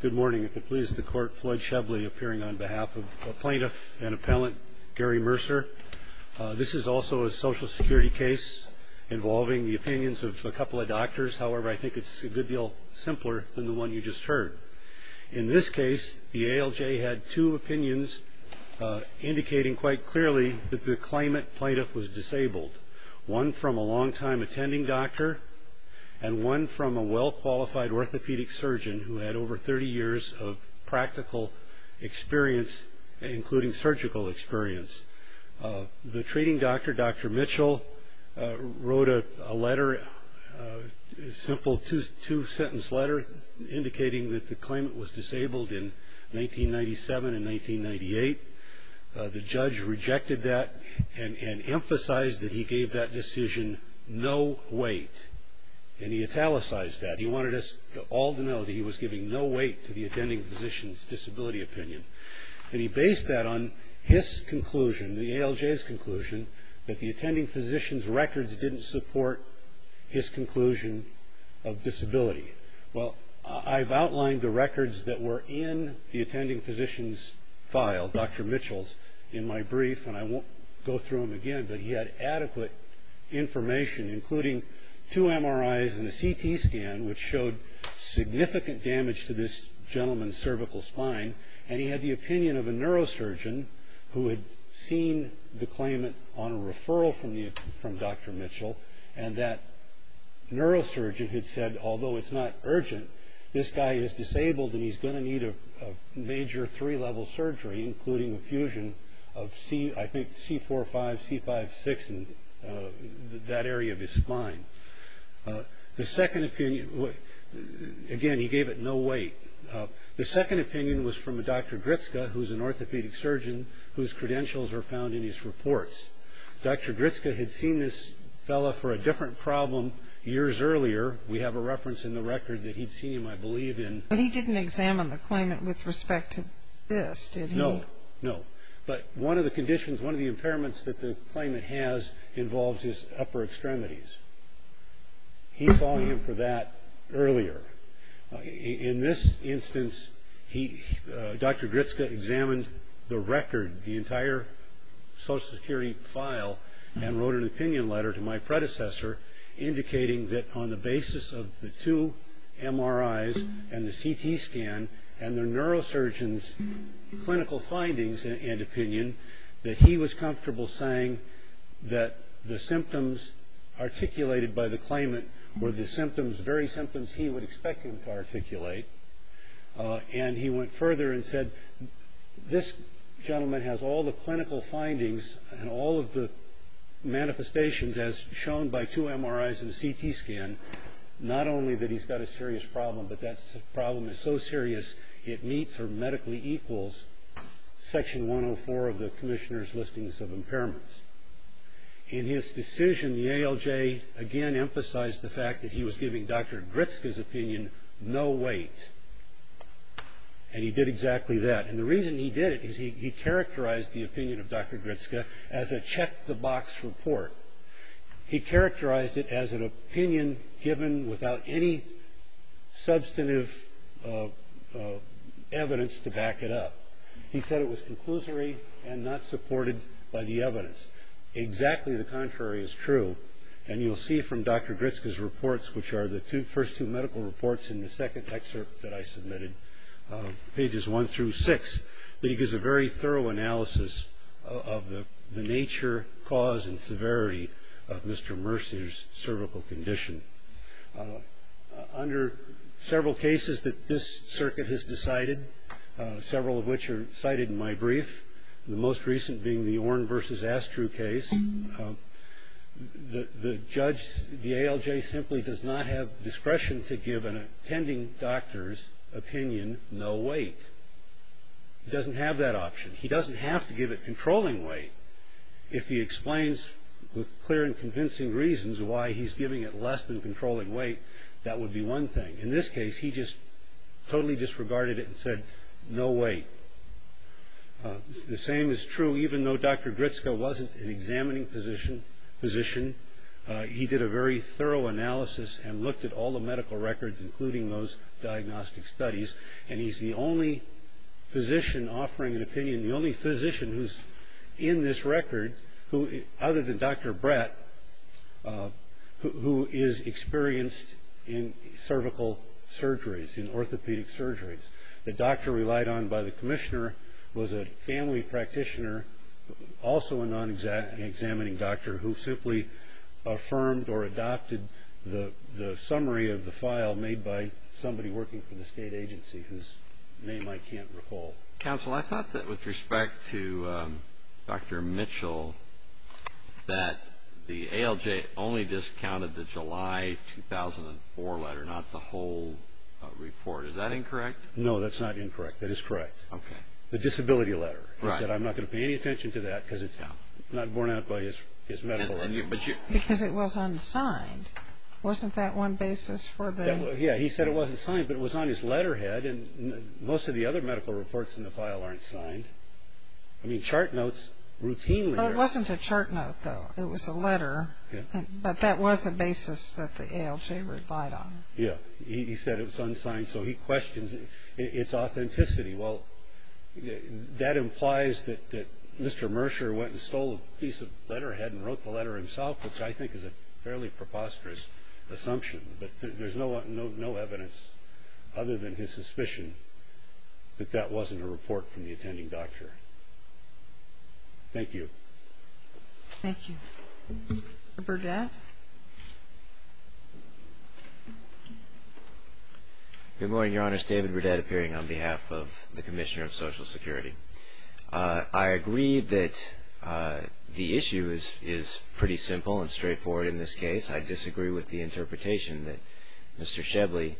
Good morning. I'm pleased to court Floyd Shebley appearing on behalf of plaintiff and appellant Gary Mercer. This is also a social security case involving the opinions of a couple of doctors. However, I think it's a good deal simpler than the one you just heard. In this case, the ALJ had two opinions indicating quite clearly that the claimant plaintiff was disabled. One from a long-time attending doctor and one from a well-qualified orthopedic surgeon who had over 30 years of practical experience, including surgical experience. The treating doctor, Dr. Mitchell, wrote a letter, a simple two-sentence letter, indicating that the claimant was disabled in 1997 and 1998. The judge rejected that and emphasized that he gave that decision no weight. And he italicized that. He wanted us all to know that he was giving no weight to the attending physician's disability opinion. And he based that on his conclusion, the ALJ's conclusion, that the attending physician's records didn't support his conclusion of disability. Well, I've outlined the records that were in the attending physician's file, Dr. Mitchell's, in my brief. And I won't go through them again. But he had adequate information, including two MRIs and a CT scan, which showed significant damage to this gentleman's cervical spine. And he had the opinion of a neurosurgeon who had seen the claimant on a referral from Dr. Mitchell. And that neurosurgeon had said, although it's not urgent, this guy is disabled and he's going to need a major three-level surgery, including a fusion of, I think, C4-5, C5-6 in that area of his spine. The second opinion, again, he gave it no weight. The second opinion was from a Dr. Gritska, who's an orthopedic surgeon, whose credentials are found in his reports. Dr. Gritska had seen this fellow for a different problem years earlier. We have a reference in the record that he'd seen him, I believe, in. But he didn't examine the claimant with respect to this, did he? No, no. But one of the conditions, one of the impairments that the claimant has involves his upper extremities. He saw him for that earlier. In this instance, Dr. Gritska examined the record, the entire Social Security file, and wrote an opinion letter to my predecessor, indicating that on the basis of the two MRIs and the CT scan, and the neurosurgeon's clinical findings and opinion, that he was comfortable saying that the symptoms articulated by the claimant were the very symptoms he would expect him to articulate. And he went further and said, this gentleman has all the clinical findings and all of the manifestations, as shown by two MRIs and a CT scan, not only that he's got a serious problem, but that problem is so serious, it meets or medically equals Section 104 of the Commissioner's Listings of Impairments. In his decision, the ALJ again emphasized the fact that he was giving Dr. Gritska's opinion no weight. And he did exactly that. And the reason he did it is he characterized the opinion of Dr. Gritska as a check-the-box report. He characterized it as an opinion given without any substantive evidence to back it up. He said it was conclusory and not supported by the evidence. Exactly the contrary is true. And you'll see from Dr. Gritska's reports, which are the first two medical reports in the second excerpt that I submitted, pages one through six, that he gives a very thorough analysis of the nature, cause, and severity of Mr. Mercer's cervical condition. Under several cases that this circuit has decided, several of which are cited in my brief, the most recent being the Orn versus Astru case, the ALJ simply does not have discretion to give an attending doctor's opinion no weight. It doesn't have that option. He doesn't have to give it controlling weight. If he explains with clear and convincing reasons why he's giving it less than controlling weight, that would be one thing. In this case, he just totally disregarded it and said, no weight. The same is true even though Dr. Gritska wasn't an examining physician. He did a very thorough analysis and looked at all the medical records, including those diagnostic studies, who's in this record, other than Dr. Brett, who is experienced in cervical surgeries, in orthopedic surgeries. The doctor relied on by the commissioner was a family practitioner, also a non-examining doctor, who simply affirmed or adopted the summary of the file made by somebody working for the state agency, whose name I can't recall. Counsel, I thought that with respect to Dr. Mitchell, that the ALJ only discounted the July 2004 letter, not the whole report. Is that incorrect? No, that's not incorrect. That is correct. Okay. The disability letter. He said, I'm not going to pay any attention to that because it's not borne out by his medical records. Because it was unsigned. Wasn't that one basis for the… Yeah, he said it wasn't signed, but it was on his letterhead. Most of the other medical reports in the file aren't signed. I mean, chart notes routinely are. It wasn't a chart note, though. It was a letter. But that was a basis that the ALJ relied on. Yeah. He said it was unsigned, so he questions its authenticity. Well, that implies that Mr. Mercer went and stole a piece of letterhead and wrote the letter himself, which I think is a fairly preposterous assumption. But there's no evidence other than his suspicion that that wasn't a report from the attending doctor. Thank you. Thank you. Mr. Burdett. Good morning, Your Honors. David Burdett appearing on behalf of the Commissioner of Social Security. I agree that the issue is pretty simple and straightforward in this case. I disagree with the interpretation that Mr. Shebley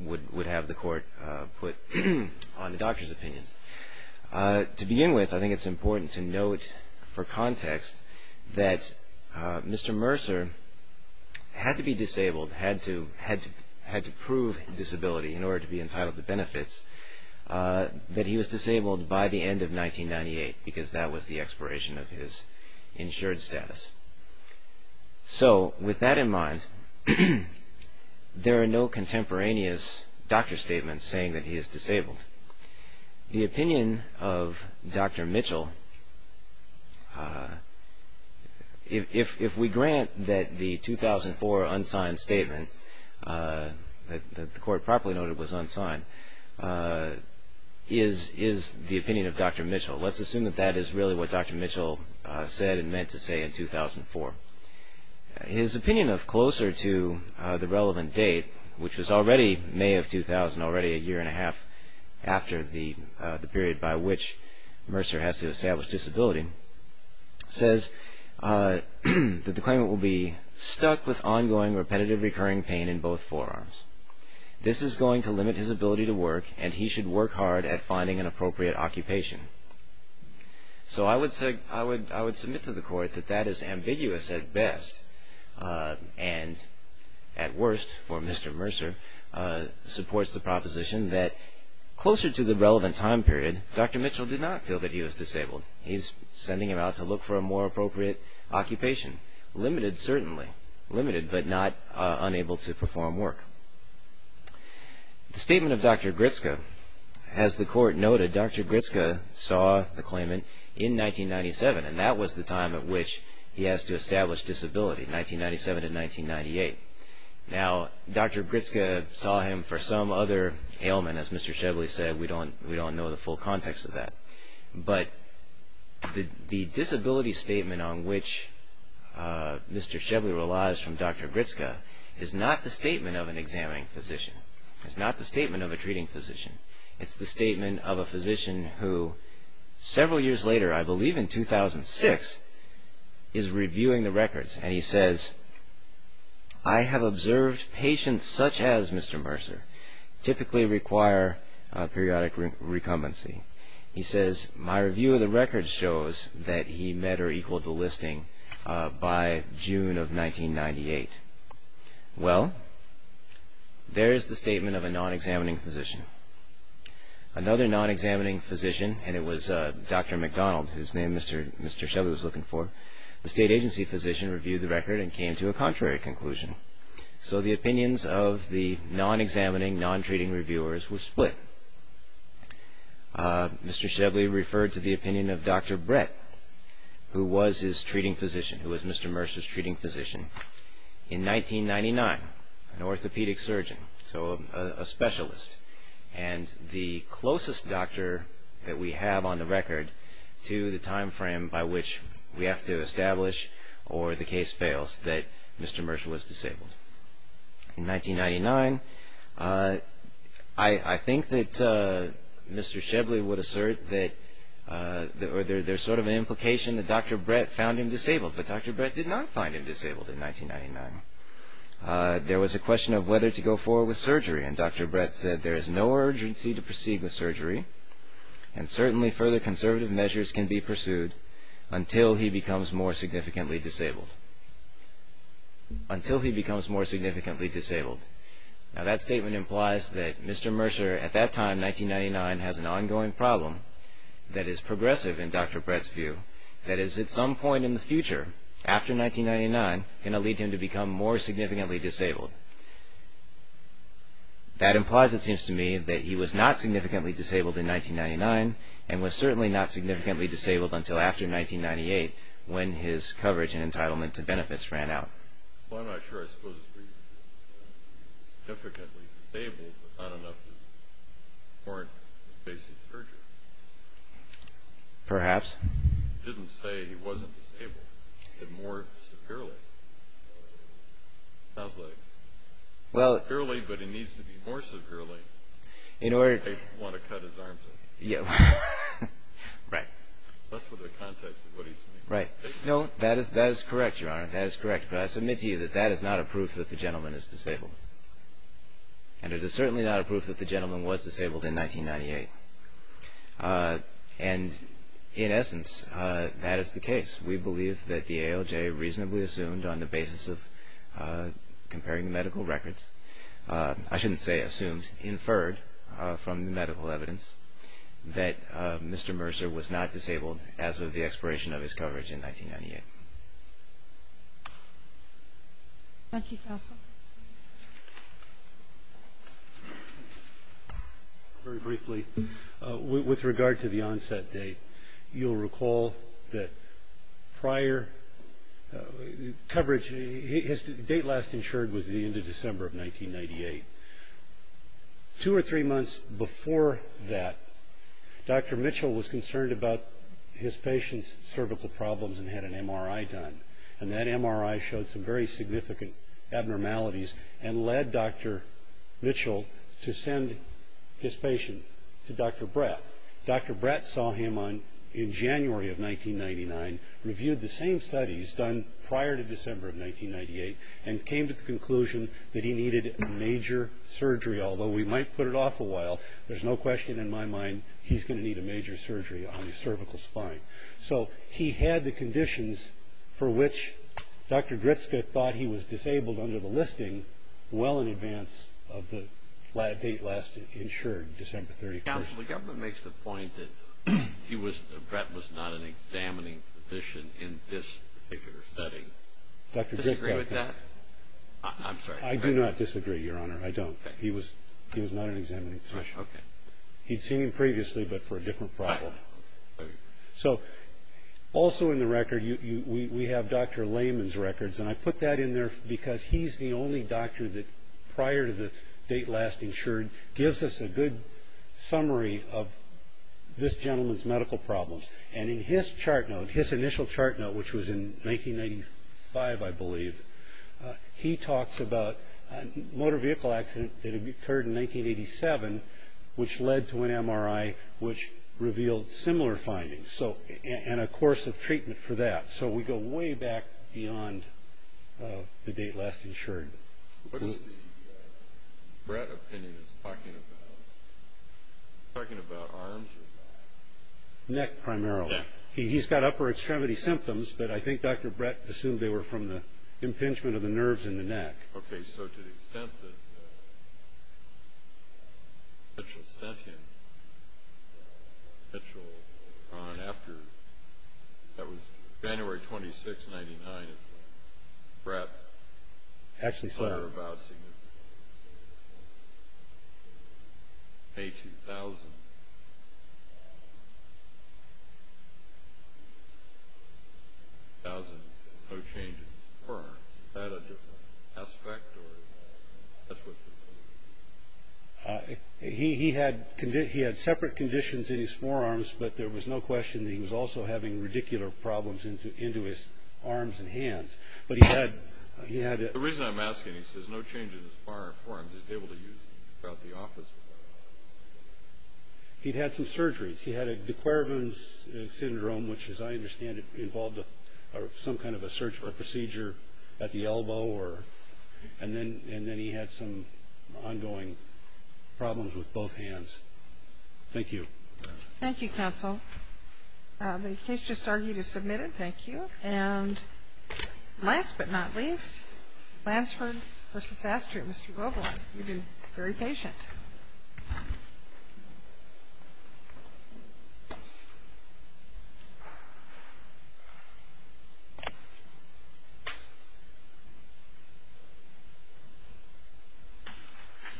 would have the Court put on the doctor's opinions. To begin with, I think it's important to note for context that Mr. Mercer had to be disabled, had to prove disability in order to be entitled to benefits, that he was disabled by the end of 1998 because that was the expiration of his insured status. So with that in mind, there are no contemporaneous doctor statements saying that he is disabled. The opinion of Dr. Mitchell, if we grant that the 2004 unsigned statement that the Court properly noted was unsigned, is the opinion of Dr. Mitchell. Let's assume that that is really what Dr. Mitchell said and meant to say in 2004. His opinion of closer to the relevant date, which was already May of 2000, already a year and a half after the period by which Mercer has to establish disability, says that the claimant will be stuck with ongoing, repetitive, recurring pain in both forearms. This is going to limit his ability to work, and he should work hard at finding an appropriate occupation. So I would submit to the Court that that is ambiguous at best, and at worst, for Mr. Mercer, supports the proposition that closer to the relevant time period, Dr. Mitchell did not feel that he was disabled. He's sending him out to look for a more appropriate occupation. Limited, certainly. Limited, but not unable to perform work. The statement of Dr. Gritske. As the Court noted, Dr. Gritske saw the claimant in 1997, and that was the time at which he has to establish disability, 1997 to 1998. Now, Dr. Gritske saw him for some other ailment. As Mr. Shevely said, we don't know the full context of that. But the disability statement on which Mr. Shevely relies from Dr. Gritske is not the statement of an examining physician. It's not the statement of a treating physician. It's the statement of a physician who, several years later, I believe in 2006, is reviewing the records, and he says, I have observed patients such as Mr. Mercer typically require periodic recumbency. He says, my review of the records shows that he met or equaled the listing by June of 1998. Well, there's the statement of a non-examining physician. Another non-examining physician, and it was Dr. McDonald, whose name Mr. Shevely was looking for, the state agency physician reviewed the record and came to a contrary conclusion. So the opinions of the non-examining, non-treating reviewers were split. Mr. Shevely referred to the opinion of Dr. Brett, who was his treating physician, who was Mr. Mercer's treating physician, in 1999, an orthopedic surgeon, so a specialist, and the closest doctor that we have on the record to the time frame by which we have to establish, or the case fails, that Mr. Mercer was disabled. In 1999, I think that Mr. Shevely would assert that there's sort of an implication that Dr. Brett found him disabled, but Dr. Brett did not find him disabled in 1999. There was a question of whether to go forward with surgery, and Dr. Brett said, there is no urgency to proceed with surgery, and certainly further conservative measures can be pursued until he becomes more significantly disabled. Now, that statement implies that Mr. Mercer, at that time, 1999, has an ongoing problem that is progressive in Dr. Brett's view, that is, at some point in the future, after 1999, going to lead him to become more significantly disabled. That implies, it seems to me, that he was not significantly disabled in 1999, and was certainly not significantly disabled until after 1998, when his coverage and entitlement to benefits ran out. Well, I'm not sure I suppose he was significantly disabled, but not enough to warrant basic surgery. Perhaps. He didn't say he wasn't disabled, but more severely. Sounds like, severely, but it needs to be more severely. I want to cut his arms off. Right. That's what the context is, what he's saying. Right. No, that is correct, Your Honor, that is correct. But I submit to you that that is not a proof that the gentleman is disabled. And it is certainly not a proof that the gentleman was disabled in 1998. And, in essence, that is the case. We believe that the ALJ reasonably assumed, on the basis of comparing the medical records, I shouldn't say assumed, inferred from the medical evidence, that Mr. Mercer was not disabled as of the expiration of his coverage in 1998. Thank you, counsel. Very briefly, with regard to the onset date, you'll recall that prior coverage, his date last insured was the end of December of 1998. Two or three months before that, Dr. Mitchell was concerned about his patient's cervical problems and had an MRI done. And that MRI showed some very significant abnormalities and led Dr. Mitchell to send his patient to Dr. Brett. Dr. Brett saw him in January of 1999, reviewed the same studies done prior to December of 1998, and came to the conclusion that he needed major surgery. Although we might put it off a while, there's no question in my mind he's going to need a major surgery on his cervical spine. So he had the conditions for which Dr. Gritzka thought he was disabled under the listing well in advance of the date last insured, December 31st. Counsel, the government makes the point that Brett was not an examining physician in this particular study. Do you disagree with that? I do not disagree, Your Honor, I don't. He was not an examining physician. He'd seen him previously, but for a different problem. So, also in the record, we have Dr. Lehman's records, and I put that in there because he's the only doctor that, prior to the date last insured, gives us a good summary of this gentleman's medical problems. And in his chart note, his initial chart note, which was in 1995, I believe, he talks about a motor vehicle accident that occurred in 1987, which led to an MRI which revealed similar findings, and a course of treatment for that. So we go way back beyond the date last insured. What is the Brett opinion? Is he talking about arms or neck? Neck, primarily. He's got upper extremity symptoms, but I think Dr. Brett assumed they were from the impingement of the nerves in the neck. Okay, so to the extent that Mitchell sent him, Mitchell, on after, that was January 26, 1999, is when Brett sent her about significantly. May 2000, 2000, no change in his forearms. Is that a different aspect? He had separate conditions in his forearms, but there was no question that he was also having radicular problems into his arms and hands. The reason I'm asking, he says no change in his forearms. He'd had some surgeries. He had a de Quervain syndrome, which, as I understand it, involved some kind of a surgery or procedure at the elbow, and then he had some ongoing problems with both hands. Thank you. Thank you, counsel. The case just argued is submitted. Thank you. And last but not least, Lansford v. Astrid, Mr. Glover. You've been very patient.